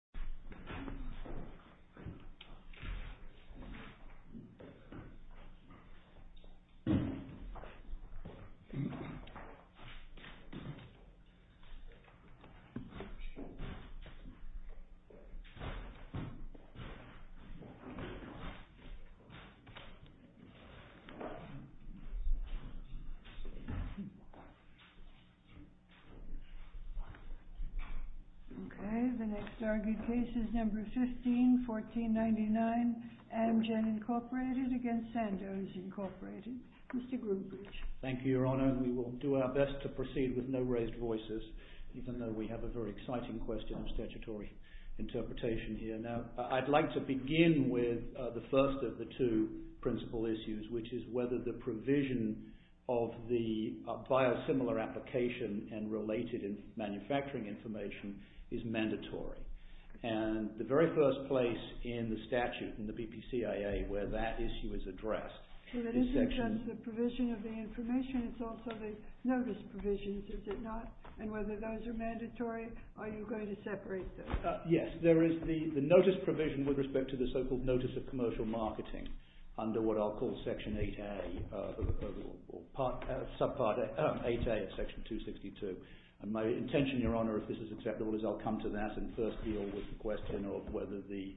Sandoz Inc. v. Sandoz Inc. v. Sandoz Inc. Mr. Groombridge. Thank you, Your Honor. We will do our best to proceed with no raised voices, even though we have a very exciting question of statutory interpretation here. Now, I'd like to begin with the first of the two principal issues, which is whether the statute, and the very first place in the statute, in the BPCIA, where that issue is addressed. So it isn't just the provision of the information, it's also the notice provisions, is it not? And whether those are mandatory, are you going to separate those? Yes. There is the notice provision with respect to the so-called Notice of Commercial Marketing under what I'll call Section 8A, or subpart 8A of Section 262. And my intention, Your Honor, if this is acceptable, is I'll come to that and first deal with the question of whether the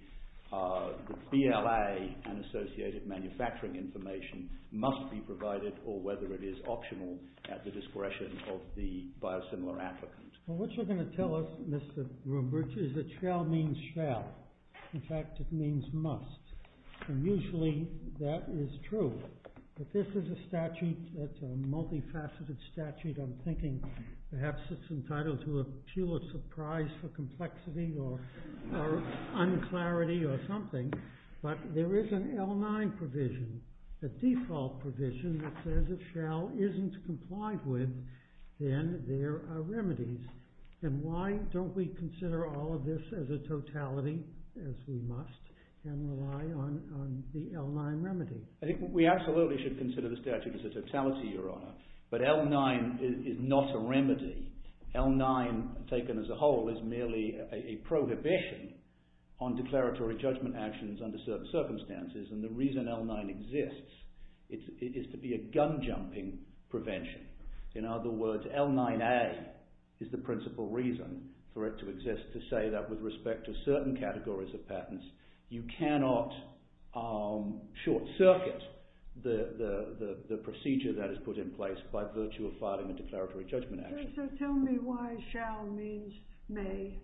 BLA and associated manufacturing information must be provided, or whether it is optional at the discretion of the biosimilar applicant. Well, what you're going to tell us, Mr. Groombridge, is that shall means shall. In fact, it means must. And usually that is true. But this is a statute that's a multifaceted statute. I'm thinking perhaps it's entitled to a pure surprise for complexity, or unclarity, or something. But there is an L9 provision, a default provision that says if shall isn't complied with, then there are remedies. And why don't we consider all of this as a totality, as we must, and rely on the L9 remedy? I think we absolutely should consider the statute as a totality, Your Honor. But L9 is not a remedy. L9 taken as a whole is merely a prohibition on declaratory judgment actions under certain circumstances. And the reason L9 exists is to be a gun-jumping prevention. In other words, L9A is the principal reason for it to exist to say that with respect to certain categories of patents, you cannot short-circuit the procedure that is put in place by virtue of filing a declaratory judgment action. So tell me why shall means may.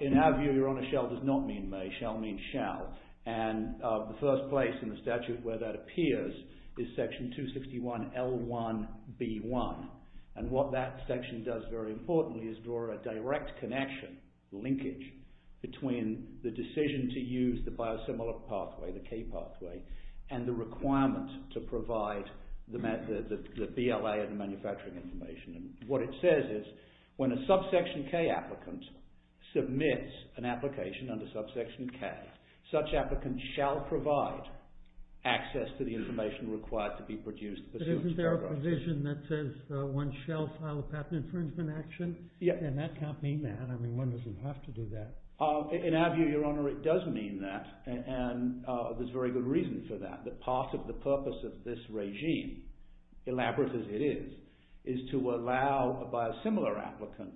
In our view, Your Honor, shall does not mean may. Shall means shall. And the first place in the statute where that appears is section 261L1B1. And what that section does very importantly is draw a direct connection, linkage, between the decision to use the biosimilar pathway, the K pathway, and the requirement to provide the BLA and the manufacturing information. And what it says is when a subsection K applicant submits an application under subsection K, such applicants shall provide access to the information required to be produced. But isn't there a provision that says one shall file a patent infringement action? Yeah. And that can't mean that. I mean, one doesn't have to do that. In our view, Your Honor, it does mean that. And there's very good reason for that, that part of the purpose of this regime, elaborate as it is, is to allow a biosimilar applicant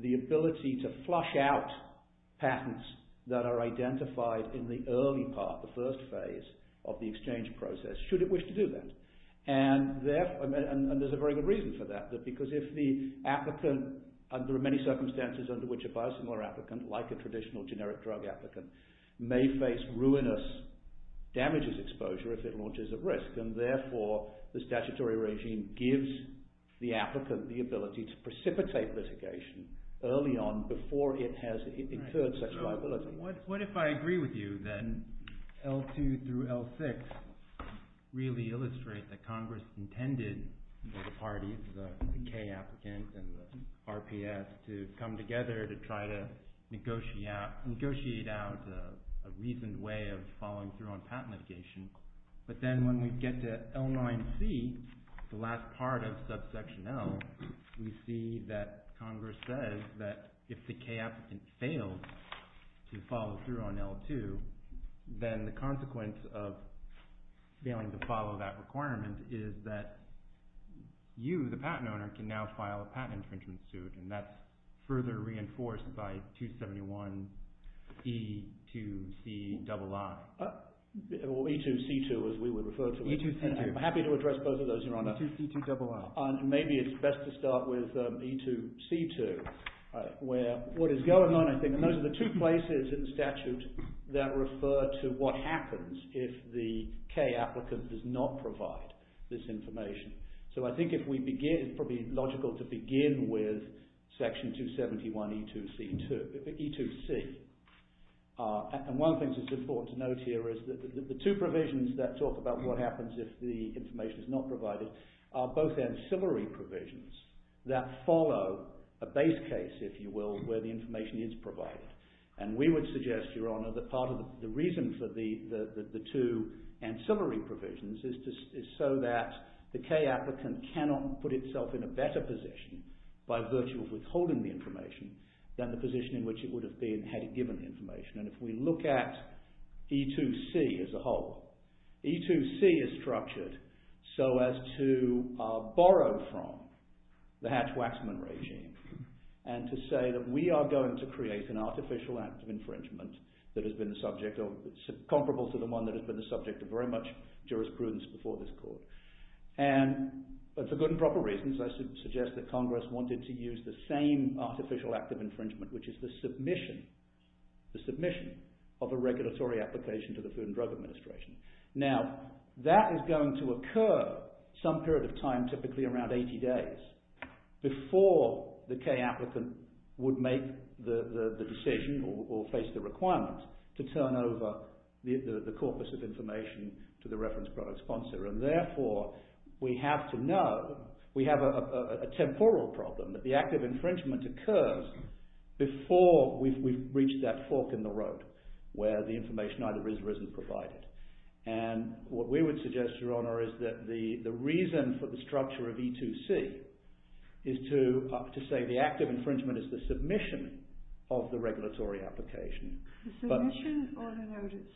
the ability to flush out patents that are identified in the early part, the first phase, of the exchange process, should it wish to do that. And there's a very good reason for that, because if the applicant, under many circumstances under which a biosimilar applicant, like a traditional generic drug applicant, may face ruinous damages exposure if it launches at risk. And therefore, the statutory regime gives the applicant the ability to precipitate litigation early on before it has incurred such liability. Right. So what if I agree with you that L2 through L6 really illustrate that Congress intended for the parties, the K applicant and the RPS, to come together to try to negotiate out a reasoned way of following through on patent litigation. But then when we get to L9C, the last part of subsection L, we see that Congress says that if the K applicant failed to follow through on L2, then the consequence of failing to You, the patent owner, can now file a patent infringement suit, and that's further reinforced by 271 E2CII. Or E2C2, as we would refer to it. E2C2. I'm happy to address both of those, Your Honor. E2CII. And maybe it's best to start with E2C2, where what is going on, I think, and those are the two places in the statute that refer to what happens if the K applicant does not provide this information. So I think it would be logical to begin with section 271 E2C. And one of the things that's important to note here is that the two provisions that talk about what happens if the information is not provided are both ancillary provisions that follow a base case, if you will, where the information is provided. And we would suggest, Your Honor, that part of the reason for the two ancillary provisions is so that the K applicant cannot put itself in a better position by virtue of withholding the information than the position in which it would have been had it given the information. And if we look at E2C as a whole, E2C is structured so as to borrow from the Hatch-Waxman regime and to say that we are going to create an artificial act of infringement that has been comparable to the one that has been the subject of very much jurisprudence before this Court. And for good and proper reasons, I suggest that Congress wanted to use the same artificial act of infringement, which is the submission of a regulatory application to the Food and Drug Administration. Now, that is going to occur some period of time, typically around 80 days, before the decision or face the requirement to turn over the corpus of information to the reference product sponsor. And therefore, we have to know, we have a temporal problem that the act of infringement occurs before we've reached that fork in the road where the information either is or isn't provided. And what we would suggest, Your Honor, is that the reason for the structure of E2C is to say the act of infringement is the submission of the regulatory application. The submission or the notice?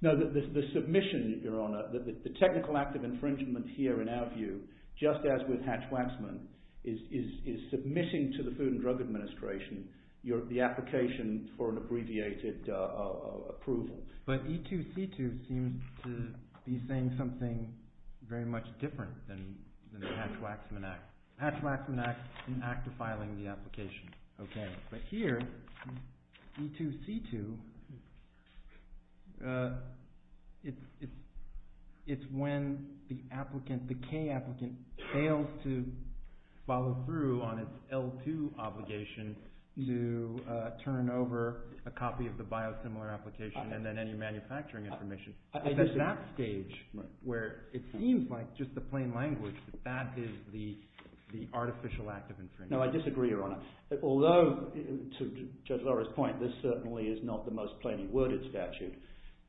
No, the submission, Your Honor. The technical act of infringement here, in our view, just as with Hatch-Waxman, is submitting to the Food and Drug Administration the application for an abbreviated approval. But E2C2 seems to be saying something very much different than the Hatch-Waxman Act. Hatch-Waxman Act, an act of filing the application. Okay. But here, E2C2, it's when the applicant, the K applicant, fails to follow through on its L2 obligation to turn over a copy of the biosimilar application and then any manufacturing information. It's at that stage where it seems like just the plain language that that is the artificial act of infringement. No, I disagree, Your Honor. Although, to Judge Laura's point, this certainly is not the most plainly worded statute.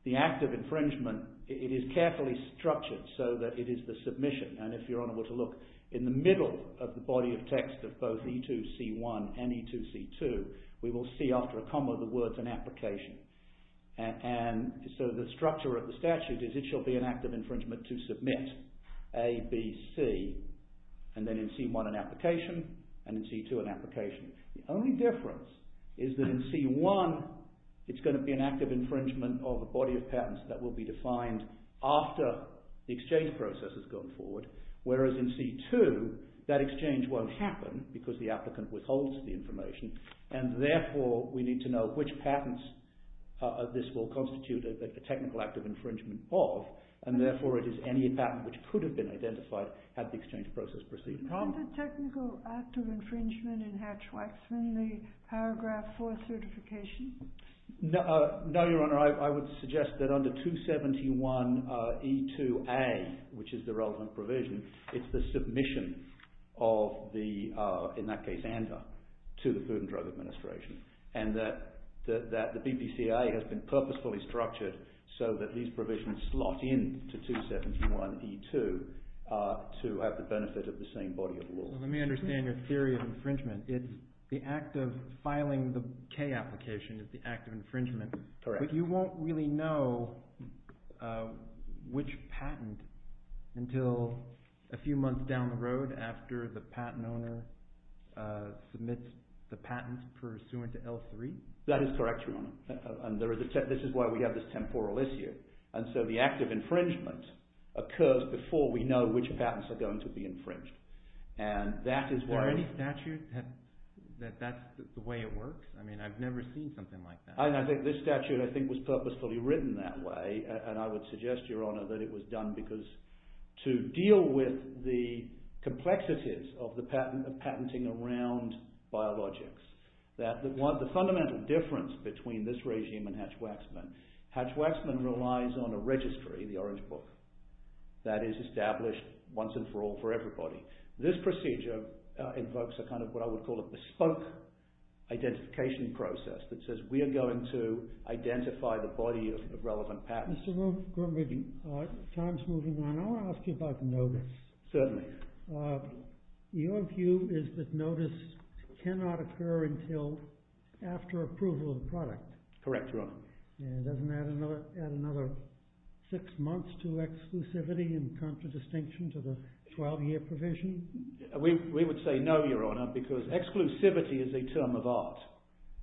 The act of infringement, it is carefully structured so that it is the submission. And if Your Honor were to look in the middle of the body of text of both E2C1 and E2C2, we will see after a comma the words, an application. And so the structure of the statute is it shall be an act of infringement to submit A, B, C, and then in C1, an application, and in C2, an application. The only difference is that in C1, it's going to be an act of infringement of a body of patents that will be defined after the exchange process has gone forward. Whereas in C2, that exchange won't happen because the applicant withholds the information and, therefore, we need to know which patents this will constitute a technical act of infringement of. And, therefore, it is any patent which could have been identified had the exchange process proceeded. Is the technical act of infringement in Hatch-Waxman the paragraph for certification? No, Your Honor. I would suggest that under 271E2A, which is the relevant provision, it's the submission of the, in that case, ANDA, to the Food and Drug Administration. And that the BPCA has been purposefully structured so that these provisions slot in to 271E2 to have the benefit of the same body of law. Let me understand your theory of infringement. It's the act of filing the K application is the act of infringement. Correct. But you won't really know which patent until a few months down the road after the patent owner submits the patents pursuant to L3? That is correct, Your Honor. And this is why we have this temporal issue. And so the act of infringement occurs before we know which patents are going to be infringed. And that is why... Is there any statute that that's the way it works? I mean, I've never seen something like that. I think this statute, I think, was purposefully written that way. And I would suggest, Your Honor, that it was done because to deal with the complexities of the patent, of patenting around biologics, that the fundamental difference between this regime and Hatch-Waxman, Hatch-Waxman relies on a registry, the orange book, that is established once and for all for everybody. This procedure invokes a kind of what I would call a bespoke identification process that says we are going to identify the body of relevant patents. Mr. Gormley, time's moving on. I want to ask you about notice. Certainly. Your view is that notice cannot occur until after approval of the product? Correct, Your Honor. And it doesn't add another six months to exclusivity in contradistinction to the 12-year provision? We would say no, Your Honor, because exclusivity is a term of art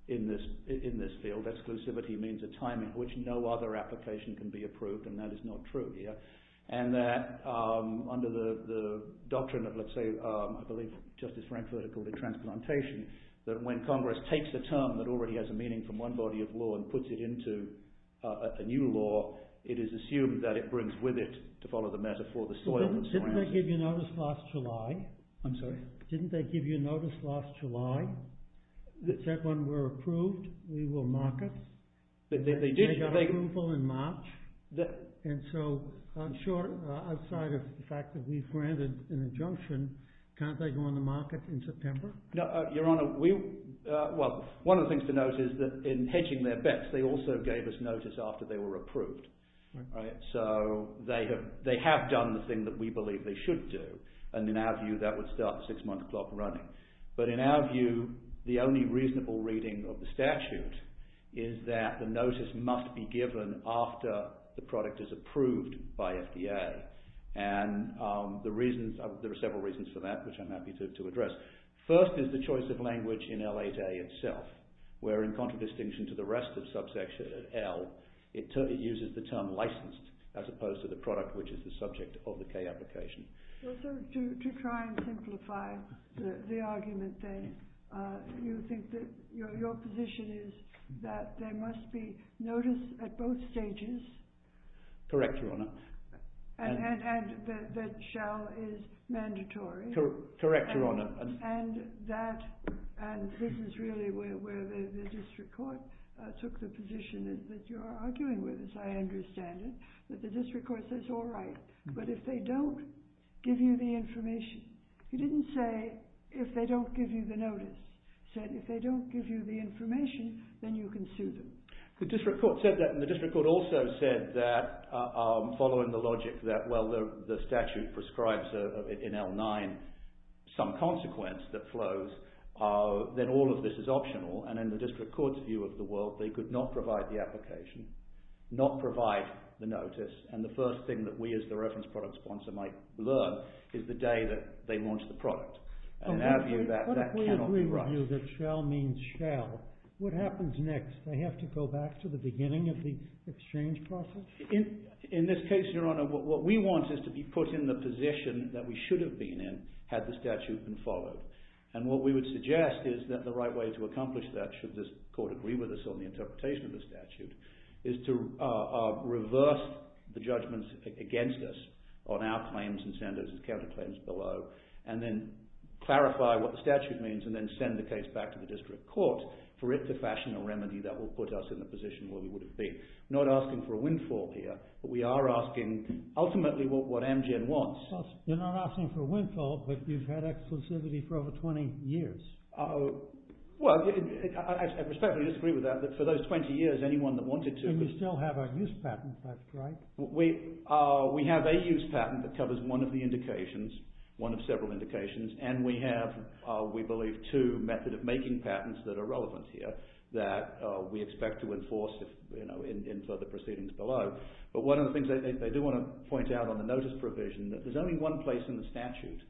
in this field. Exclusivity means a time in which no other application can be approved, and that is not true here. And that under the doctrine of, let's say, I believe Justice Frank vertical, the transplantation, that when Congress takes a term that already has a meaning from one body of law and puts it into a new law, it is assumed that it brings with it, to follow the metaphor, the soil that surrounds it. Didn't they give you notice last July? I'm sorry? Didn't they give you notice last July that said when we're approved, we will market? They did. They got approval in March. And so, I'm sure, outside of the fact that we've granted an injunction, can't they go on the market in September? No, Your Honor, we, well, one of the things to note is that in hedging their bets, they also gave us notice after they were approved. Right. So, they have done the thing that we believe they should do, and in our view, that would start the six-month clock running. But in our view, the only reasonable reading of the statute is that the notice must be given after the product is approved by FDA. And the reasons, there are several reasons for that, which I'm happy to address. First is the choice of language in L8A itself, where in contradistinction to the rest of the product, which is the subject of the K application. Well, sir, to try and simplify the argument, then, you think that your position is that there must be notice at both stages? Correct, Your Honor. And that shall is mandatory? Correct, Your Honor. And that, and this is really where the district court took the position is that you're arguing with, as I understand it, that the district court says, all right, but if they don't give you the information. You didn't say, if they don't give you the notice. You said, if they don't give you the information, then you can sue them. The district court said that, and the district court also said that, following the logic that, well, the statute prescribes in L9 some consequence that flows, then all of this is not provide the notice. And the first thing that we, as the reference product sponsor, might learn is the day that they launch the product. And that cannot be right. But if we agree with you that shall means shall, what happens next? They have to go back to the beginning of the exchange process? In this case, Your Honor, what we want is to be put in the position that we should have been in, had the statute been followed. interpretation of the statute is to reverse the judgments against us on our claims and Senator's counterclaims below, and then clarify what the statute means, and then send the case back to the district court for it to fashion a remedy that will put us in the position where we would have been. We're not asking for a windfall here, but we are asking, ultimately, what Amgen wants. You're not asking for a windfall, but you've had exclusivity for over 20 years. Well, I respectfully disagree with that. For those 20 years, anyone that wanted to... And you still have a use patent, that's right? We have a use patent that covers one of the indications, one of several indications, and we have, we believe, two method of making patents that are relevant here that we expect to enforce in further proceedings below. But one of the things they do want to point out on the notice provision, that there's only one place in the statute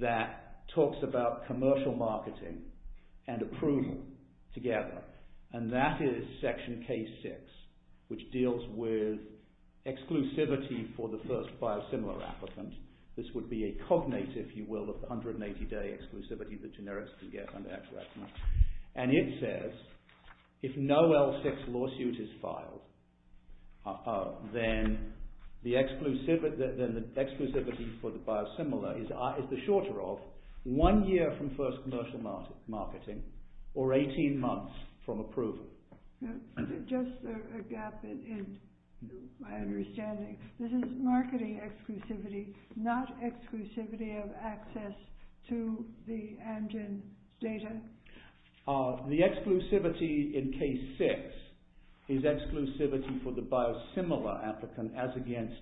that talks about commercial marketing and approval together, and that is section K6, which deals with exclusivity for the first biosimilar applicant. This would be a cognate, if you will, of 180 day exclusivity that generics can get under exclusivity for the biosimilar is the shorter of one year from first commercial marketing or 18 months from approval. Just a gap in my understanding. This is marketing exclusivity, not exclusivity of access to the Amgen data? The exclusivity in K6 is exclusivity for the biosimilar applicant as against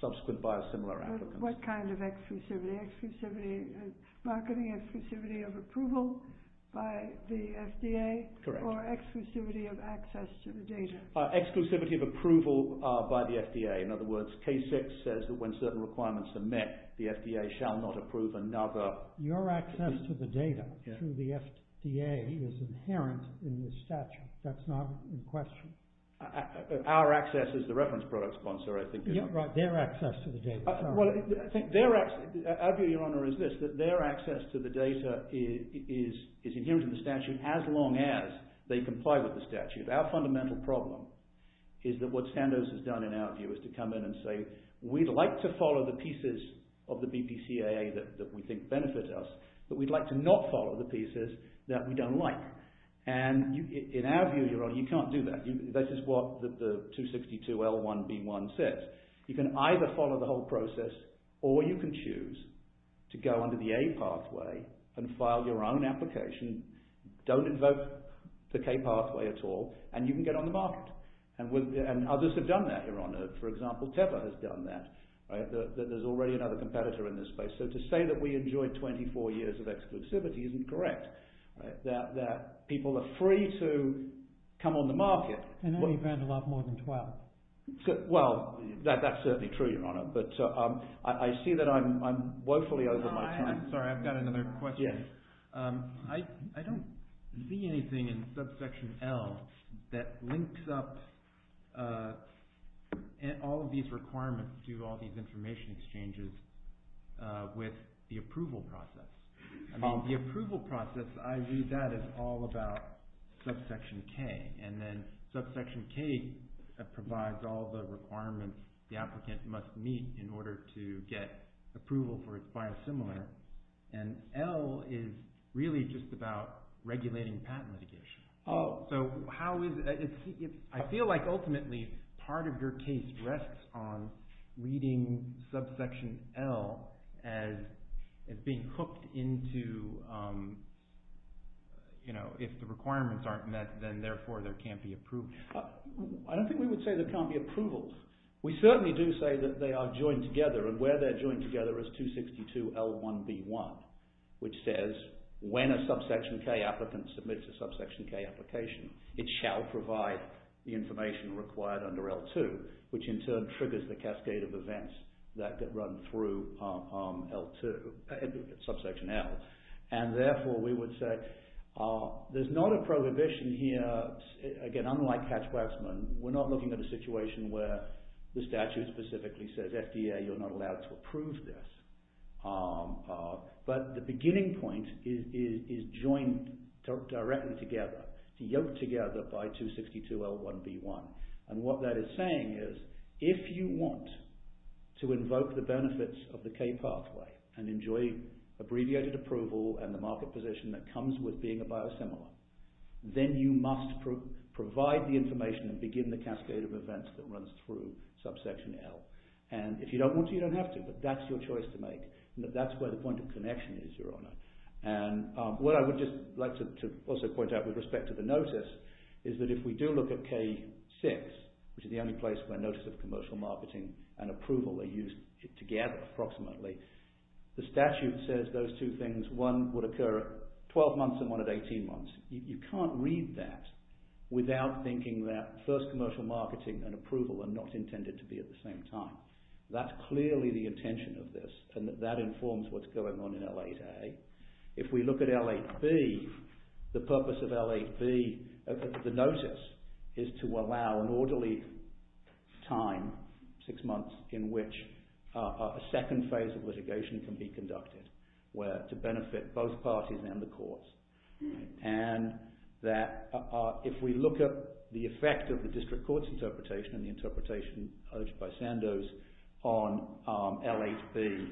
subsequent biosimilar applicants. What kind of exclusivity? Exclusivity of marketing, exclusivity of approval by the FDA? Correct. Or exclusivity of access to the data? Exclusivity of approval by the FDA. In other words, K6 says that when certain requirements are met, the FDA shall not approve another... Your access to the data through the FDA is inherent in the statute. That's not in question. Our access is the reference product sponsor, I think. Yeah, right. Their access to the data. Sorry. Well, I think their access... Our view, Your Honor, is this, that their access to the data is inherent in the statute as long as they comply with the statute. Our fundamental problem is that what Sandoz has done in our view is to come in and say, we'd like to follow the pieces of the BPCAA that we think benefit us, but we'd like to not follow the pieces that we don't like. In our view, Your Honor, you can't do that. This is what the 262L1B1 says. You can either follow the whole process or you can choose to go under the A pathway and file your own application, don't invoke the K pathway at all, and you can get on the market. Others have done that, Your Honor. For example, Teva has done that. There's already another competitor in this space. So to say that we enjoy 24 years of exclusivity isn't correct, that people are free to come on the market. I know you've ran a lot more than 12. Well, that's certainly true, Your Honor, but I see that I'm woefully over my time. I'm sorry, I've got another question. Yes. I don't see anything in subsection L that links up all of these requirements to all these information exchanges with the approval process. The approval process, I view that as all about subsection K, and then subsection K provides all the requirements the applicant must meet in order to get approval for its biosimilar, and L is really just about regulating patent litigation. I feel like ultimately part of your case rests on reading subsection L as being hooked into if the requirements aren't met, then therefore there can't be approval. I don't think we would say there can't be approvals. We certainly do say that they are joined together, and where they're joined together is 262 L1B1, which says when a subsection K applicant submits a subsection K application, it shall provide the information required under L2, which in turn triggers the cascade of events that run through L2, subsection L, and therefore we would say there's not a prohibition here. Again, unlike Hatch-Waxman, we're not looking at a situation where the statute specifically says FDA, you're not allowed to approve this, but the beginning point is joined directly together, to yoke together by 262 L1B1, and what that is saying is if you want to invoke the benefits of the K pathway and enjoy abbreviated approval and the market position that comes with being a biosimilar, then you must provide the information and begin the cascade of events that runs through subsection L, and if you don't want to, you don't have to, but that's your choice to make, and that's where the point of connection is, Your Honour, and what I would just like to also point out with respect to the notice is that if we do look at K6, which is the only place where notice of commercial marketing and approval are used together approximately, the statute says those two things, one would occur at 12 months and one at 18 months. You can't read that without thinking that first commercial marketing and approval are not intended to be at the same time. That's clearly the intention of this, and that informs what's going on in L8A. If we look at L8B, the purpose of L8B, the notice is to allow an orderly time, six months, in which a second phase of litigation can be conducted to benefit both parties and the courts, and that if we look at the effect of the district court's interpretation and the interpretation urged by Sandoz on L8B,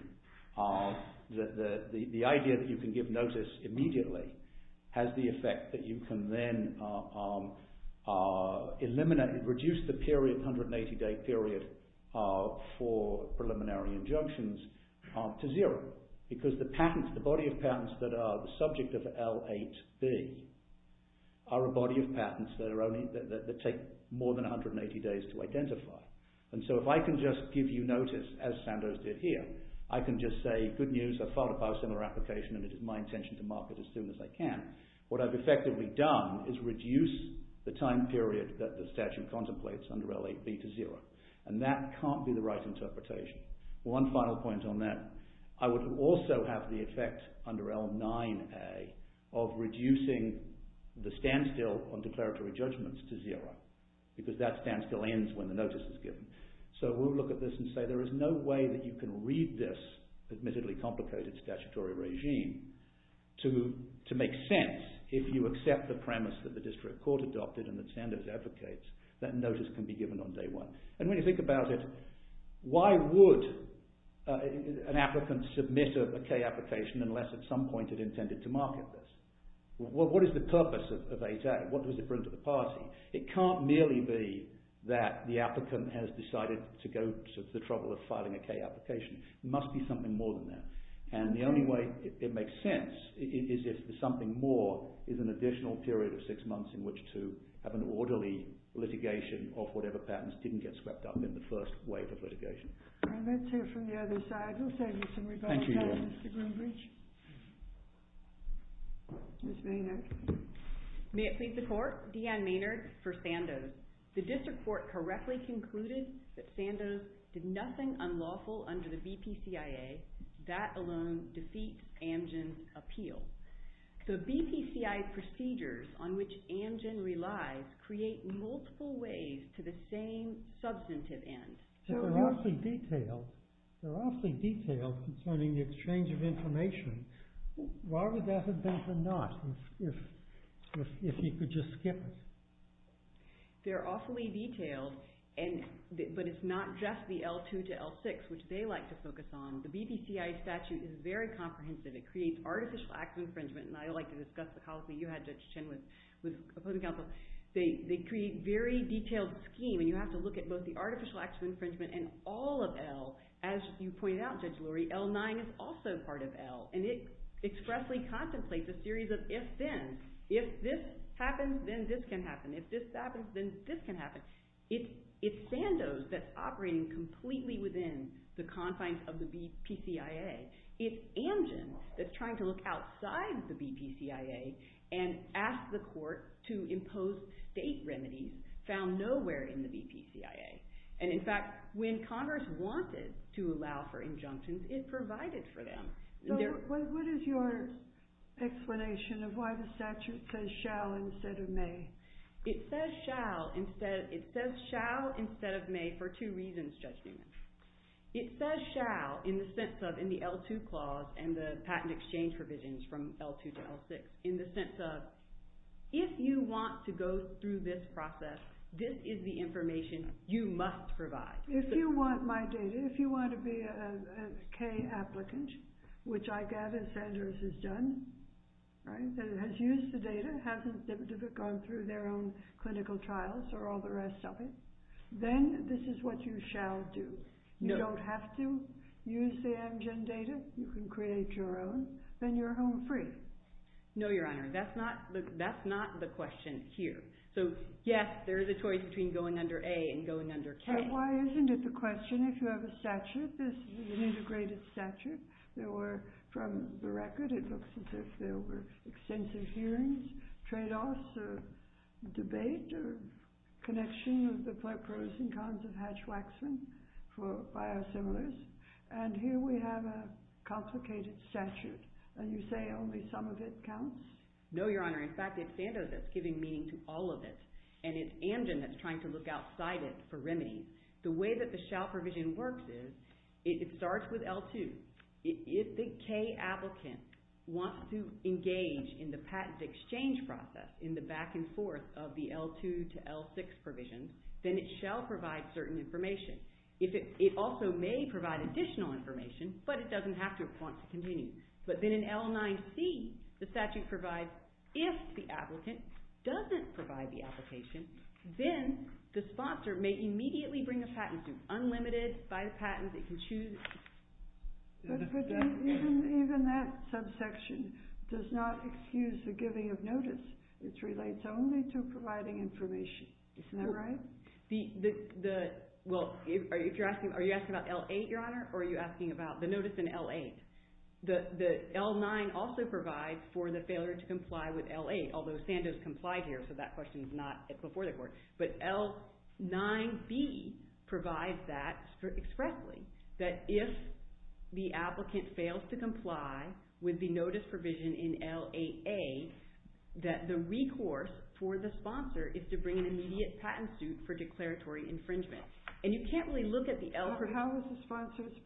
the idea that you can give notice immediately has the effect that you can then reduce the 180-day period for preliminary injunctions to zero, because the body of patents that are the subject of L8B are a body of patents that take more than 180 days to identify. So if I can just give you notice, as Sandoz did here, I can just say, good news, I filed a biosimilar application and it is my intention to mark it as soon as I can. What I've effectively done is reduce the time period that the statute contemplates under L8B to zero, and that can't be the right interpretation. One final point on that, I would also have the effect under L9A of reducing the standstill on declaratory judgments to zero, because that standstill ends when the notice is given. So we'll look at this and say there is no way that you can read this admittedly complicated statutory regime to make sense if you accept the premise that the district court adopted and that Sandoz advocates that notice can be given on day one. And when you think about it, why would an applicant submit a K application unless at some point it intended to market this? What is the purpose of 8A? What does it bring to the party? It can't merely be that the applicant has decided to go to the trouble of filing a K application. It must be something more than that. And the only way it makes sense is if the something more is an additional period of six months in which to have an orderly litigation of whatever patents didn't get swept up in the first wave of litigation. All right, let's hear from the other side. We'll save you some rebuttal time, Mr. Groombridge. Ms. Maynard. May it please the court, Deanne Maynard for Sandoz. The district court correctly concluded that Sandoz did nothing unlawful under the BPCIA. That alone defeats Amgen's appeal. The BPCI procedures on which Amgen relies create multiple ways to the same substantive end. They're awfully detailed. They're awfully detailed concerning the exchange of information. Why would that have been for Nott if he could just skip it? They're awfully detailed. But it's not just the L2 to L6, which they like to focus on. The BPCIA statute is very comprehensive. It creates artificial acts of infringement. And I like to discuss the policy you had, Judge Chin, with opposing counsel. They create very detailed scheme. And you have to look at both the artificial acts of infringement and all of L. As you pointed out, Judge Lurie, L9 is also part of L. And it expressly contemplates a series of if-then. If this happens, then this can happen. If this happens, then this can happen. It's Sandoz that's operating completely within the confines of the BPCIA. It's Amgen that's trying to look outside the BPCIA and ask the court to impose state remedies found nowhere in the BPCIA. And in fact, when Congress wanted to allow for injunctions, it provided for them. What is your explanation of why the statute says shall instead of may? It says shall instead of may for two reasons, Judge Newman. It says shall in the sense of in the L2 clause and the patent exchange provisions from L2 to L6 in the sense of if you want to go through this process, this is the information you must provide. If you want my data, if you want to be a K applicant, which I gather Sandoz has done, that has used the data, hasn't gone through their own clinical trials or all the rest of it, then this is what you shall do. You don't have to use the Amgen data. You can create your own. Then you're home free. No, Your Honor. That's not the question here. So, yes, there is a choice between going under A and going under K. But why isn't it the question if you have a statute? This is an integrated statute. From the record, it looks as if there were extensive hearings, tradeoffs, or debate or connection of the pros and cons of Hatch-Waxman for biosimilars. And here we have a complicated statute. And you say only some of it counts? No, Your Honor. In fact, it's Sandoz that's giving meaning to all of it. And it's Amgen that's trying to look outside it for remedy. The way that the shall provision works is it starts with L2. If the K applicant wants to engage in the patent exchange process, in the back and forth of the L2 to L6 provisions, then it shall provide certain information. It also may provide additional information, but it doesn't have to want to continue. But then in L9C, the statute provides if the applicant doesn't provide the application, then the sponsor may immediately bring a patent to Unlimited, buy the patent. It can choose. But even that subsection does not excuse the giving of notice. It relates only to providing information. Isn't that right? Well, are you asking about L8, Your Honor, or are you asking about the notice in L8? The L9 also provides for the failure to comply with L8, although Sandoz complied here, so that question is not before the court. But L9B provides that expressly, that if the applicant fails to comply with the notice provision in L8A, that the recourse for the sponsor is to bring an immediate patent suit for declaratory infringement. And you can't really look at the L8. How can you file suit if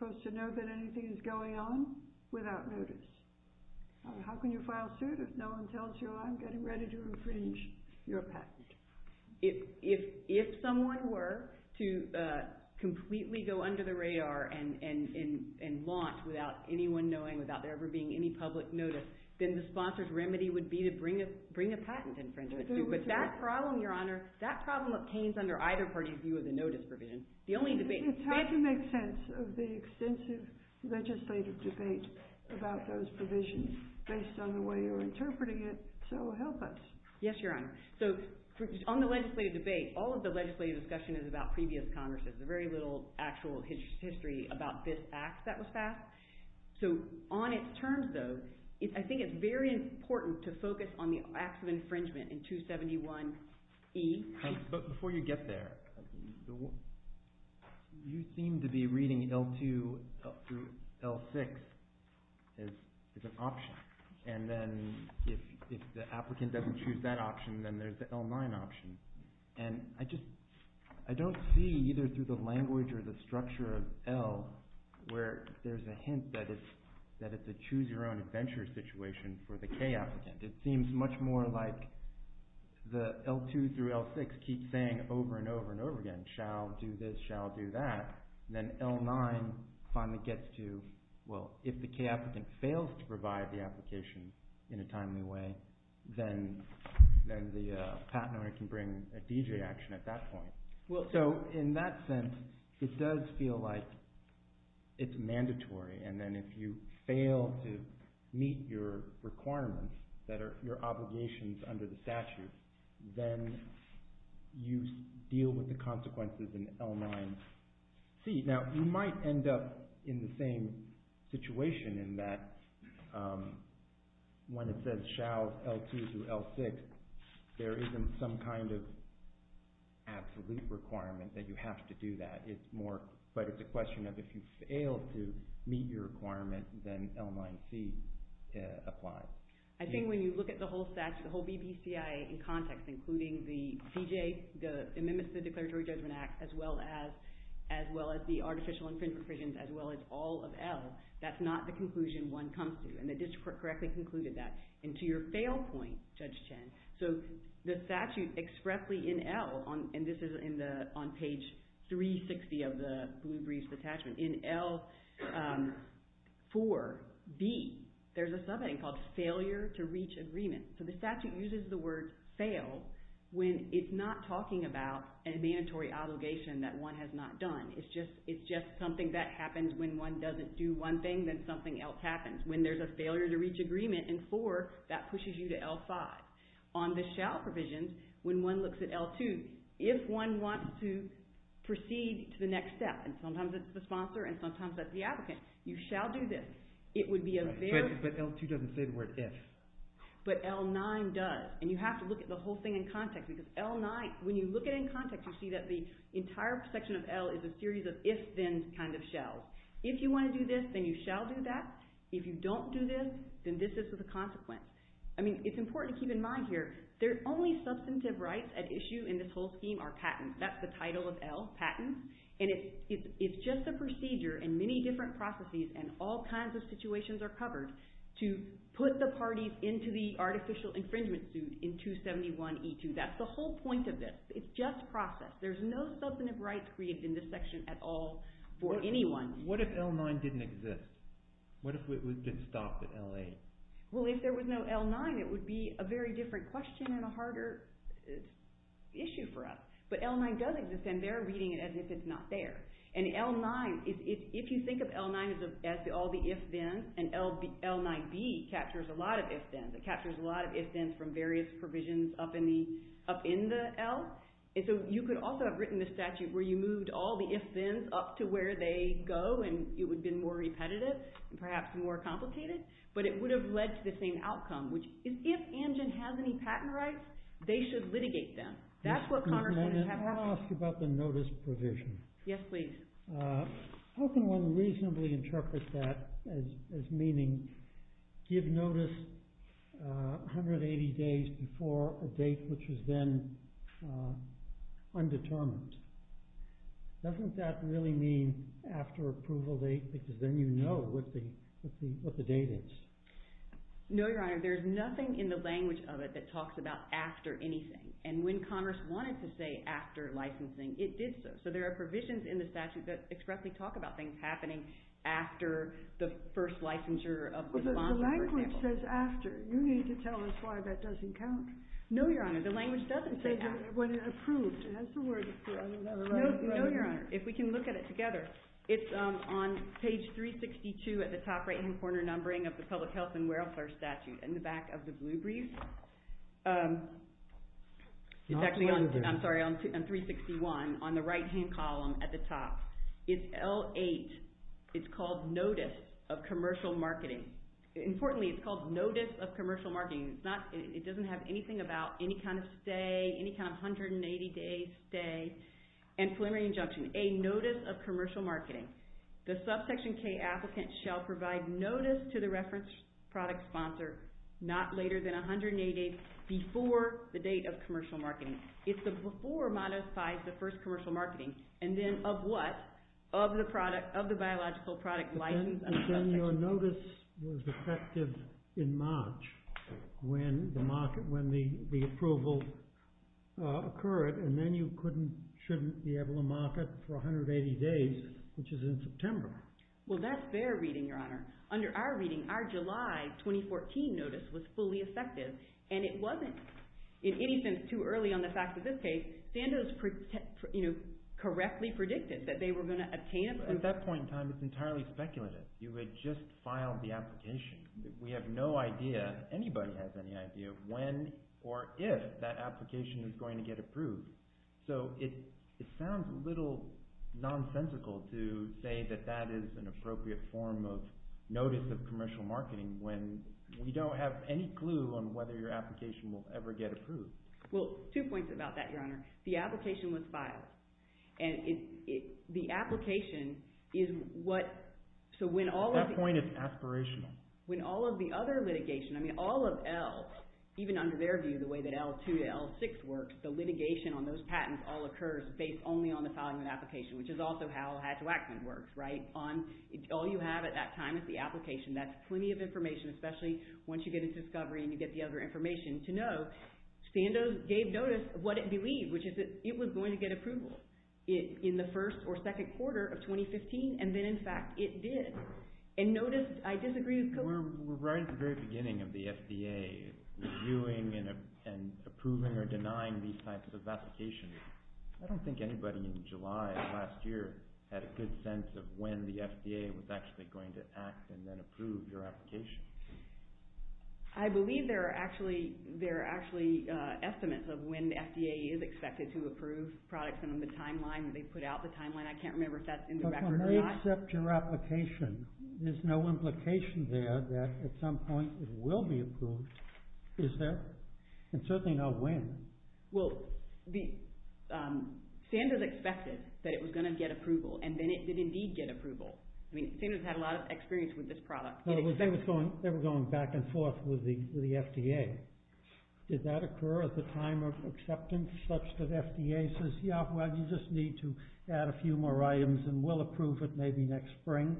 no one tells you, I'm getting ready to infringe your patent? If someone were to completely go under the radar and launch without anyone knowing, without there ever being any public notice, then the sponsor's remedy would be to bring a patent infringement suit. But that problem, Your Honor, that problem obtains under either party's view of the notice provision. It's hard to make sense of the extensive legislative debate about those provisions based on the way you're interpreting it. So help us. Yes, Your Honor. So on the legislative debate, all of the legislative discussion is about previous Congresses. There's very little actual history about this Act that was passed. So on its terms, though, I think it's very important to focus on the acts of infringement in 271E. Before you get there, you seem to be reading L2 through L6 as an option. And then if the applicant doesn't choose that option, then there's the L9 option. And I just don't see, either through the language or the structure of L, where there's a hint that it's a choose-your-own-adventure situation for the K applicant. It seems much more like the L2 through L6 keep saying over and over and over again, shall do this, shall do that. Then L9 finally gets to, well, if the K applicant fails to provide the application in a timely way, then the patent owner can bring a D.J. action at that point. So in that sense, it does feel like it's mandatory. And then if you fail to meet your requirements that are your obligations under the statute, then you deal with the consequences in L9C. Now, you might end up in the same situation in that when it says shall L2 through L6, there isn't some kind of absolute requirement that you have to do that. But it's a question of if you fail to meet your requirement, then L9C applies. I think when you look at the whole statute, the whole BBCIA in context, including the D.J., the Amendments to the Declaratory Judgment Act, as well as the artificial infringement provisions, as well as all of L, that's not the conclusion one comes to. And the district correctly concluded that. And to your fail point, Judge Chen, so the statute expressly in L, and this is on page 360 of the Blue Brief Detachment, in L4B, there's a subheading called failure to reach agreement. So the statute uses the word fail when it's not talking about a mandatory obligation that one has not done. It's just something that happens when one doesn't do one thing, then something else happens. When there's a failure to reach agreement in 4, that pushes you to L5. On the shall provisions, when one looks at L2, if one wants to proceed to the next step, and sometimes it's the sponsor and sometimes it's the applicant, you shall do this. It would be a very— But L2 doesn't say the word if. But L9 does. And you have to look at the whole thing in context because L9, when you look at it in context, you see that the entire section of L is a series of if-then kind of shalls. If you want to do this, then you shall do that. If you don't do this, then this is with a consequence. I mean it's important to keep in mind here. The only substantive rights at issue in this whole scheme are patents. That's the title of L, patents. And it's just a procedure in many different processes and all kinds of situations are covered to put the parties into the artificial infringement suit in 271E2. That's the whole point of this. It's just process. There's no substantive rights created in this section at all for anyone. What if L9 didn't exist? What if it was just stopped at L8? Well, if there was no L9, it would be a very different question and a harder issue for us. But L9 does exist, and they're reading it as if it's not there. And L9, if you think of L9 as all the if-thens, and L9B captures a lot of if-thens. It captures a lot of if-thens from various provisions up in the L. So you could also have written the statute where you moved all the if-thens up to where they go, and it would have been more repetitive and perhaps more complicated. But it would have led to the same outcome, which is if Amgen has any patent rights, they should litigate them. That's what Congressmen have to do. I want to ask you about the notice provision. Yes, please. How can one reasonably interpret that as meaning give notice 180 days before a date which was then undetermined? Doesn't that really mean after approval date because then you know what the date is? No, Your Honor. There's nothing in the language of it that talks about after anything. And when Congress wanted to say after licensing, it did so. So there are provisions in the statute that expressly talk about things happening after the first licensure of the bond, for example. But the language says after. You need to tell us why that doesn't count. No, Your Honor. The language doesn't say that. When it approved. It has the word approved. I don't know the right word. No, Your Honor. If we can look at it together, it's on page 362 at the top right-hand corner numbering of the Public Health and Welfare Statute in the back of the blue brief. It's actually on 361 on the right-hand column at the top. It's L8. It's called Notice of Commercial Marketing. Importantly, it's called Notice of Commercial Marketing. It doesn't have anything about any kind of stay, any kind of 180-day stay, and preliminary injunction. A Notice of Commercial Marketing. The subsection K applicant shall provide notice to the reference product sponsor not later than 180 days before the date of commercial marketing. It's the before modifies the first commercial marketing. Of the biological product license of subsection K. Then your notice was effective in March when the approval occurred, and then you shouldn't be able to market for 180 days, which is in September. Well, that's their reading, Your Honor. Under our reading, our July 2014 notice was fully effective, and it wasn't in any sense too early on the fact of this case. Sandoz correctly predicted that they were going to obtain it. At that point in time, it's entirely speculative. You had just filed the application. We have no idea. Anybody has any idea when or if that application is going to get approved. So it sounds a little nonsensical to say that that is an appropriate form of notice of commercial marketing when we don't have any clue on whether your application will ever get approved. Well, two points about that, Your Honor. The application was filed. The application is what... At that point, it's aspirational. When all of the other litigation, I mean all of L, even under their view, the way that L2 to L6 works, the litigation on those patents all occurs based only on the filing of the application, which is also how Hatch-Waxman works. All you have at that time is the application. That's plenty of information, especially once you get into discovery and you get the other information to know. Sandoz gave notice of what it believed, which is that it was going to get approval in the first or second quarter of 2015, and then, in fact, it did. And notice, I disagree with... We're right at the very beginning of the FDA reviewing and approving or denying these types of applications. I don't think anybody in July of last year had a good sense of when the FDA was actually going to act and then approve your application. I believe there are actually estimates of when the FDA is expected to approve products under the timeline that they put out. The timeline, I can't remember if that's in the record or not. But when they accept your application, there's no implication there that at some point it will be approved, is there? And certainly not when. Well, Sandoz expected that it was going to get approval, and then it did indeed get approval. I mean, Sandoz had a lot of experience with this product. They were going back and forth with the FDA. Did that occur at the time of acceptance, such that FDA says, yeah, well, you just need to add a few more items and we'll approve it maybe next spring?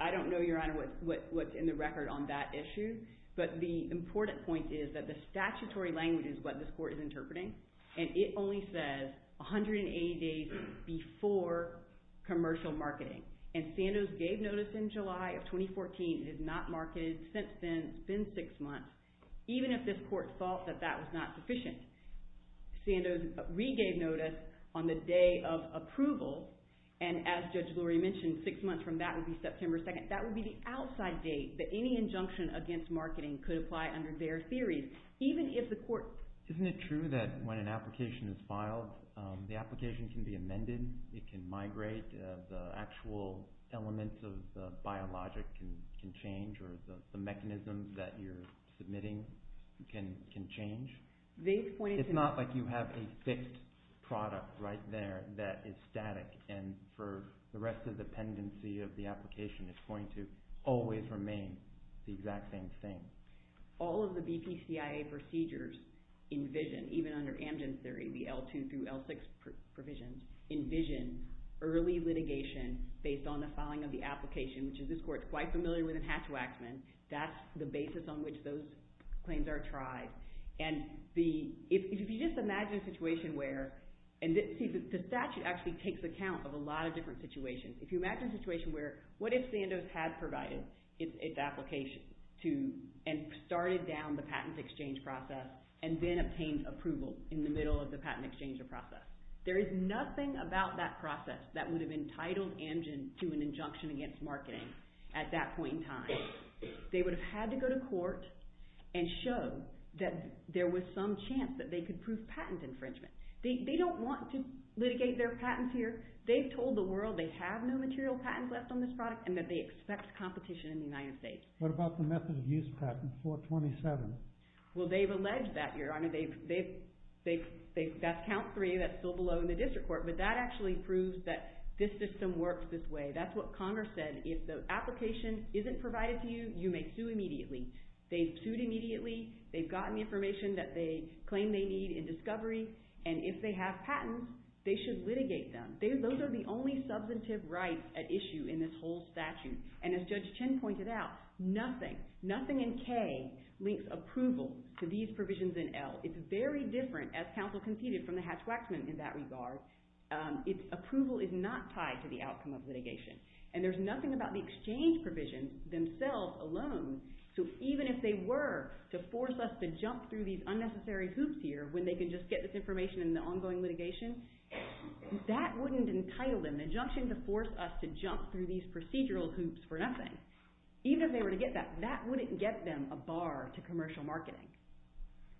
I don't know, Your Honor, what's in the record on that issue. But the important point is that the statutory language is what this court is interpreting, and it only says 180 days before commercial marketing. And Sandoz gave notice in July of 2014, it is not marketed since then, it's been six months, even if this court thought that that was not sufficient. Sandoz regave notice on the day of approval, and as Judge Gloria mentioned, six months from that would be September 2nd. That would be the outside date that any injunction against marketing could apply under their theories, even if the court... Isn't it true that when an application is filed, the application can be amended? It can migrate? The actual elements of the biologic can change, or the mechanism that you're submitting can change? It's not like you have a fixed product right there that is static, and for the rest of the pendency of the application, it's going to always remain the exact same thing. All of the BPCIA procedures envision, even under Amgen's theory, the L2 through L6 provisions, envision early litigation based on the filing of the application, which this court is quite familiar with in Hatch-Waxman. That's the basis on which those claims are tried. And if you just imagine a situation where... The statute actually takes account of a lot of different situations. If you imagine a situation where, what if Sandoz had provided its application and started down the patent exchange process and then obtained approval in the middle of the patent exchange process, there is nothing about that process that would have entitled Amgen to an injunction against marketing at that point in time. They would have had to go to court and show that there was some chance that they could prove patent infringement. They don't want to litigate their patents here. They've told the world they have no material patents left on this product and that they expect competition in the United States. What about the method of use patent, 427? Well, they've alleged that, Your Honor. That's count 3. That's still below in the district court. But that actually proves that this system works this way. That's what Congress said. If the application isn't provided to you, you may sue immediately. They've sued immediately. They've gotten the information that they claim they need in discovery. And if they have patents, they should litigate them. Those are the only substantive rights at issue in this whole statute. And as Judge Chin pointed out, nothing, nothing in K links approval to these provisions in L. It's very different, as counsel conceded, from the Hatch-Waxman in that regard. Approval is not tied to the outcome of litigation. And there's nothing about the exchange provisions themselves alone. So even if they were to force us to jump through these unnecessary hoops here when they could just get this information in the ongoing litigation, that wouldn't entitle them, the injunction to force us to jump through these procedural hoops for nothing. Even if they were to get that, that wouldn't get them a bar to commercial marketing.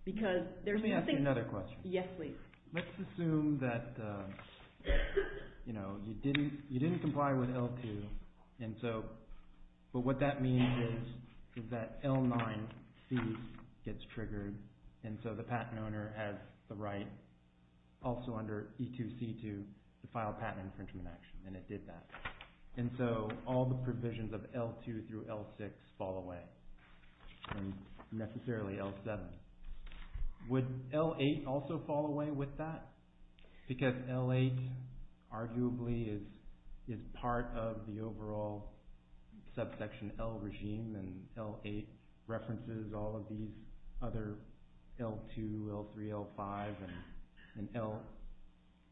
Let me ask you another question. Yes, please. Let's assume that you didn't comply with L2, but what that means is that L9C gets triggered, and so the patent owner has the right, also under E2C2, to file a patent infringement action, and it did that. And so all the provisions of L2 through L6 fall away, and necessarily L7. Would L8 also fall away with that? Because L8 arguably is part of the overall subsection L regime, and L8 references all of these other L2, L3, L5,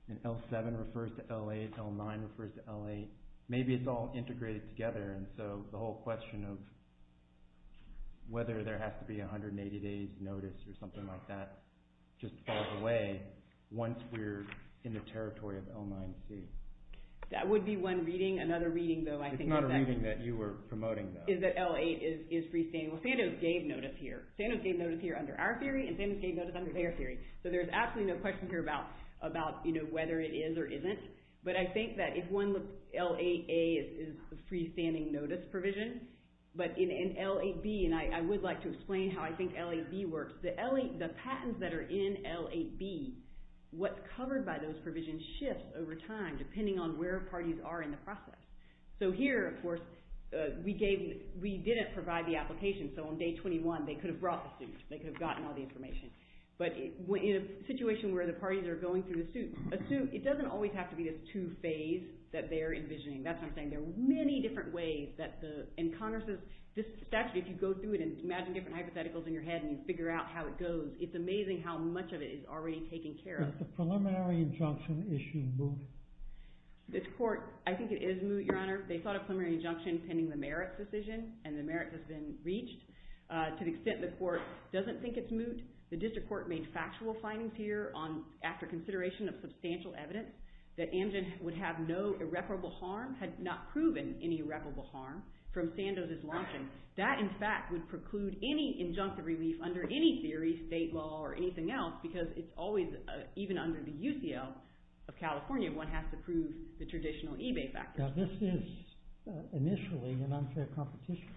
and L7 refers to L8, L9 refers to L8. Maybe it's all integrated together, and so the whole question of whether there has to be 180 days notice or something like that just falls away once we're in the territory of L9C. That would be one reading. Another reading, though, I think is that… It's not a reading that you were promoting, though. …is that L8 is freestanding. Well, Sandoz gave notice here. Sandoz gave notice here under our theory, and Sandoz gave notice under their theory. So there's absolutely no question here about whether it is or isn't, but I think that if L8A is the freestanding notice provision, but in L8B, and I would like to explain how I think L8B works, the patents that are in L8B, what's covered by those provisions shifts over time depending on where parties are in the process. So here, of course, we didn't provide the application, so on day 21 they could have brought the suit. They could have gotten all the information. But in a situation where the parties are going through a suit, it doesn't always have to be this two phase that they're envisioning. That's what I'm saying. There are many different ways that the… In Congress's statute, if you go through it and imagine different hypotheticals in your head and you figure out how it goes, it's amazing how much of it is already taken care of. Is the preliminary injunction issue moot? This court, I think it is moot, Your Honor. They sought a preliminary injunction pending the merits decision, and the merits has been reached. To the extent the court doesn't think it's moot, the district court made factual findings here after consideration of substantial evidence that Amgen would have no irreparable harm, had not proven any irreparable harm from Sandoz's launching. That, in fact, would preclude any injunctive relief under any theory, state law, or anything else because it's always, even under the UCL of California, one has to prove the traditional eBay factors. Now this is initially an unfair competition.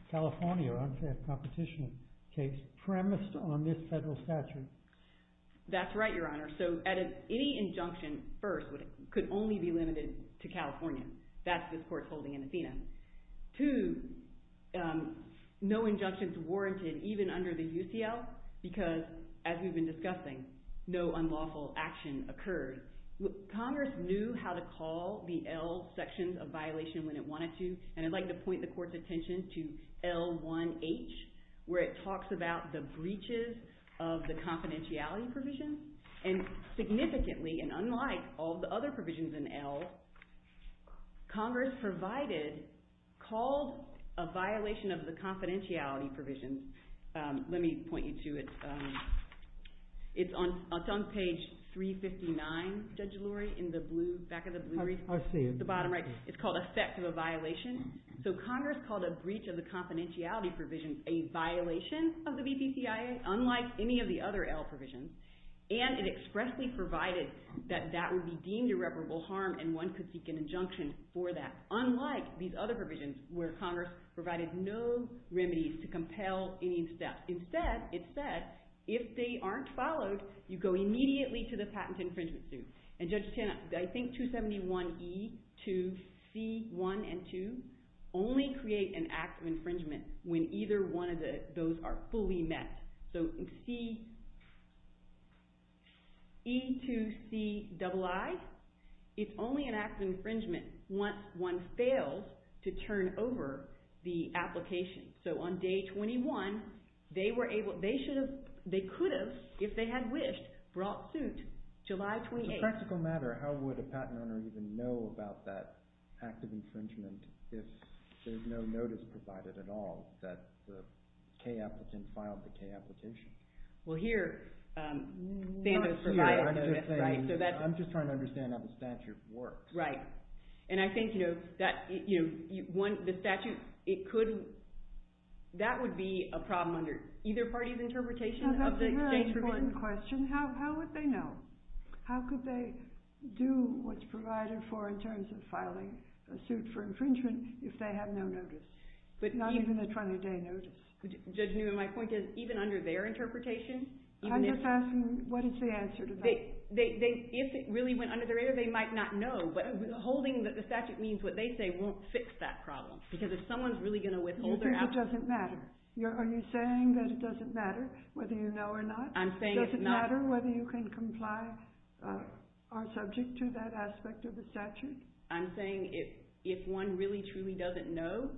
Premised on this federal statute. That's right, Your Honor. Any injunction, first, could only be limited to California. That's this court's holding in Athena. Two, no injunction is warranted even under the UCL because, as we've been discussing, no unlawful action occurred. Congress knew how to call the L sections of violation when it wanted to, and I'd like to point the court's attention to L1H where it talks about the breaches of the confidentiality provisions. And significantly, and unlike all the other provisions in L, Congress provided, called a violation of the confidentiality provisions. Let me point you to it. It's on page 359, Judge Lurie, in the back of the blue report. I see it. It's the bottom right. It's called effect of a violation. So Congress called a breach of the confidentiality provisions a violation of the VPCIA, unlike any of the other L provisions, and it expressly provided that that would be deemed irreparable harm and one could seek an injunction for that, unlike these other provisions where Congress provided no remedies to compel any steps. Instead, it said, if they aren't followed, you go immediately to the patent infringement suit. And Judge Tenna, I think 271E, 2C1 and 2 only create an act of infringement when either one of those are fully met. So E2CII, it's only an act of infringement once one fails to turn over the application. So on day 21, they could have, if they had wished, brought suit July 28th. As a practical matter, how would a patent owner even know about that act of infringement if there's no notice provided at all that the K applicant filed the K application? Well, here, Sandoz provided it. I'm just trying to understand how the statute works. Right. And I think, you know, the statute, that would be a problem under either party's interpretation of the exchange provision. Now, that's a really important question. How would they know? How could they do what's provided for in terms of filing a suit for infringement if they have no notice, not even a 20-day notice? Judge Newman, my point is, even under their interpretation, I'm just asking, what is the answer to that? If it really went under their ear, they might not know, but holding the statute means what they say won't fix that problem, because if someone's really going to withhold their application... You think it doesn't matter? Are you saying that it doesn't matter whether you know or not? I'm saying it's not... Does it matter whether you can comply or subject to that aspect of the statute? I'm saying if one really, truly doesn't know,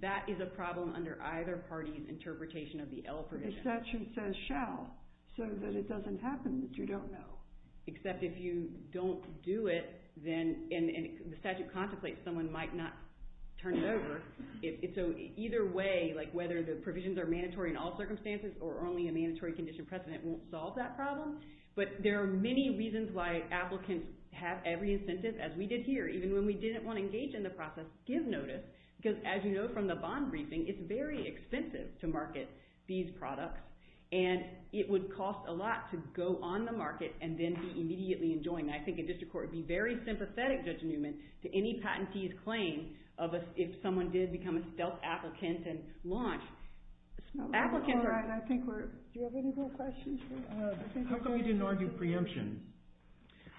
that is a problem under either party's interpretation of the L provision. The statute says, shall, so that it doesn't happen that you don't know. Except if you don't do it, then the statute contemplates someone might not turn it over. So either way, whether the provisions are mandatory in all circumstances or only a mandatory condition precedent won't solve that problem. But there are many reasons why applicants have every incentive, as we did here, even when we didn't want to engage in the process, give notice. Because as you know from the bond briefing, it's very expensive to market these products, and it would cost a lot to go on the market and then be immediately enjoined. I think a district court would be very sympathetic, Judge Newman, to any patentee's claim of if someone did become a self-applicant and launch... Do you have any more questions? How come you didn't argue preemption?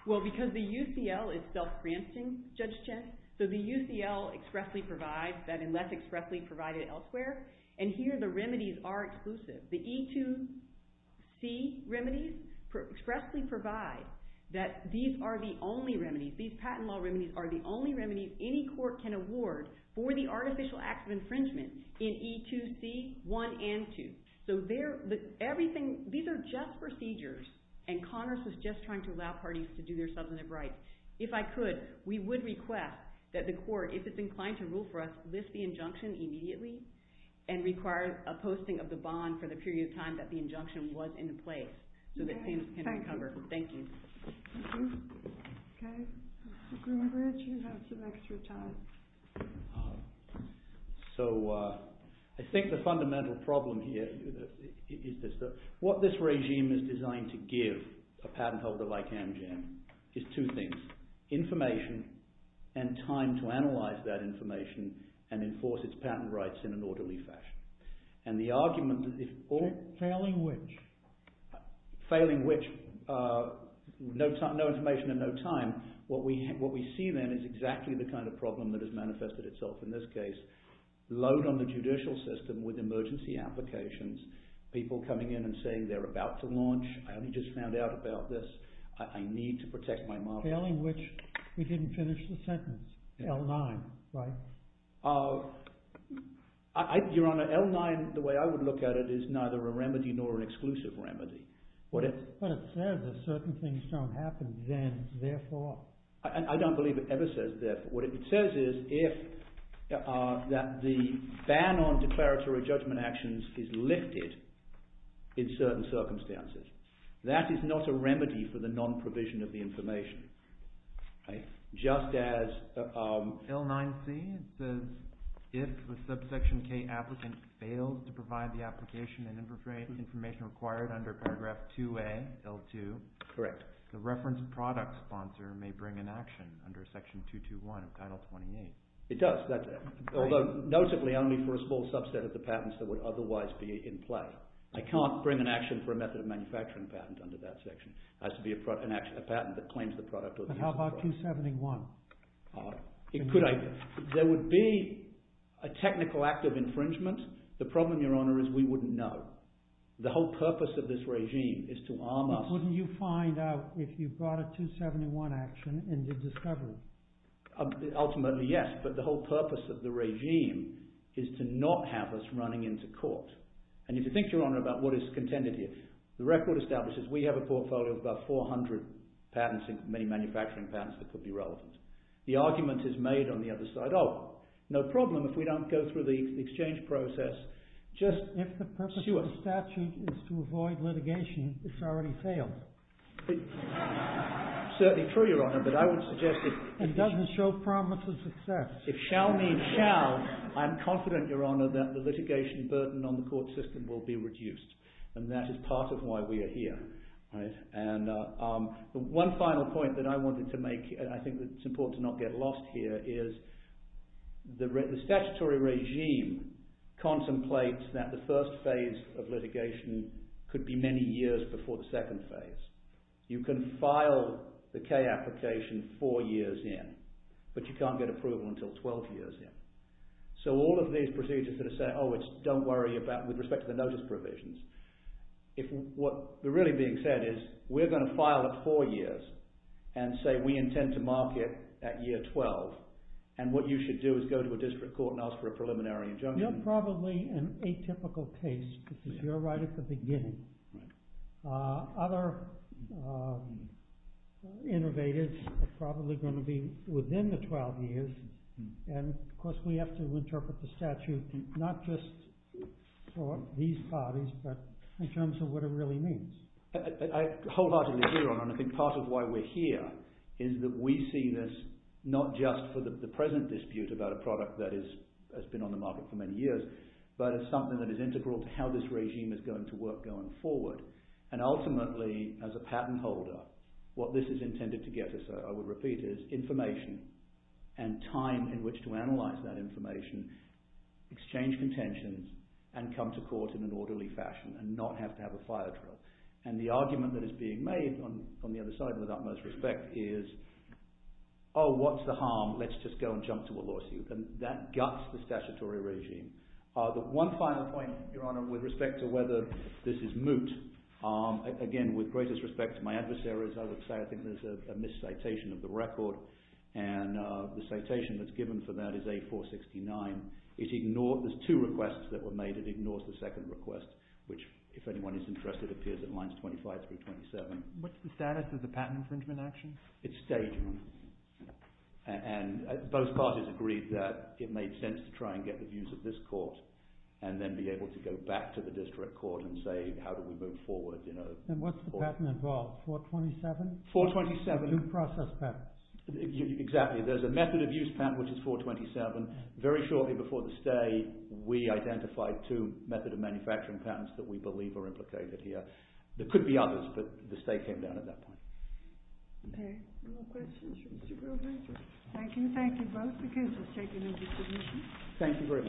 Well, because the UCL is self-preempting, Judge Chen. So the UCL expressly provides that unless expressly provided elsewhere. And here the remedies are exclusive. The E2C remedies expressly provide that these are the only remedies. These patent law remedies are the only remedies any court can award for the artificial acts of infringement in E2C1 and 2. So these are just procedures, and Connors was just trying to allow parties to do their substantive rights. If I could, we would request that the court, if it's inclined to rule for us, list the injunction immediately and require a posting of the bond for the period of time that the injunction was in place so that things can recover. Thank you. Okay. Mr. Greenbridge, you have some extra time. So I think the fundamental problem here is this. What this regime is designed to give a patent holder like Amgen is two things, information and time to analyze that information and enforce its patent rights in an orderly fashion. And the argument that if all... Failing which? Failing which, no information and no time. What we see then is exactly the kind of problem that has manifested itself in this case. Load on the judicial system with emergency applications, people coming in and saying they're about to launch, I only just found out about this, I need to protect my market. Failing which, we didn't finish the sentence, L9, right? Your Honor, L9, the way I would look at it, is neither a remedy nor an exclusive remedy. But it says that certain things don't happen then, therefore. I don't believe it ever says therefore. What it says is that the ban on declaratory judgment actions is lifted in certain circumstances. That is not a remedy for the non-provision of the information. Just as... L9C, it says if a subsection K applicant fails to provide the application and information required under paragraph 2A, L2, the reference product sponsor may bring an action under section 221 of title 28. It does, although noticeably only for a small subset of the patents that would otherwise be in play. I can't bring an action for a method of manufacturing patent under that section. It has to be a patent that claims the product. How about 271? There would be a technical act of infringement. The problem, Your Honor, is we wouldn't know. The whole purpose of this regime is to arm us. But wouldn't you find out if you brought a 271 action and did discovery? Ultimately, yes, but the whole purpose of the regime is to not have us running into court. And if you think, Your Honor, about what is contended here, the record establishes we have a portfolio of about 400 patents, many manufacturing patents that could be relevant. The argument is made on the other side, oh, no problem if we don't go through the exchange process. If the purpose of the statute is to avoid litigation, it's already failed. Certainly true, Your Honor, but I would suggest that... It doesn't show promise of success. If shall mean shall, I'm confident, Your Honor, that the litigation burden on the court system will be reduced. And that is part of why we are here. And one final point that I wanted to make, and I think it's important to not get lost here, is the statutory regime contemplates that the first phase of litigation could be many years before the second phase. You can file the K application four years in, but you can't get approval until 12 years in. So all of these procedures that are saying, oh, don't worry about, with respect to the notice provisions, what's really being said is we're going to file at four years and say we intend to mark it at year 12. And what you should do is go to a district court and ask for a preliminary injunction. You're probably an atypical case because you're right at the beginning. Right. Other innovators are probably going to be within the 12 years. And, of course, we have to interpret the statute not just for these parties, but in terms of what it really means. I wholeheartedly agree, Your Honor, and I think part of why we're here is that we see this not just for the present dispute about a product that has been on the market for many years, but as something that is integral to how this regime is going to work going forward. And ultimately, as a patent holder, what this is intended to get us, I would repeat, is information and time in which to analyse that information, exchange contentions, and come to court in an orderly fashion and not have to have a fire drill. And the argument that is being made, on the other side and without most respect, is, oh, what's the harm? Let's just go and jump to a lawsuit. And that guts the statutory regime. The one final point, Your Honor, with respect to whether this is moot, again, with greatest respect to my adversaries, I would say I think there's a miscitation of the record, and the citation that's given for that is A469. There's two requests that were made. It ignores the second request, which, if anyone is interested, appears at lines 25 through 27. What's the status of the patent infringement action? It stayed. And both parties agreed that it made sense to try and get the views of this court and then be able to go back to the district court and say, how do we move forward? And what's the patent involved? 427? 427. Two process patents. Exactly. There's a method of use patent, which is 427. Very shortly before the stay, we identified two method of manufacturing patents that we believe are implicated here. There could be others, but the stay came down at that point. Okay. Any more questions for Mr. Grover? Thank you. Thank you both again for taking over the submission. Thank you very much.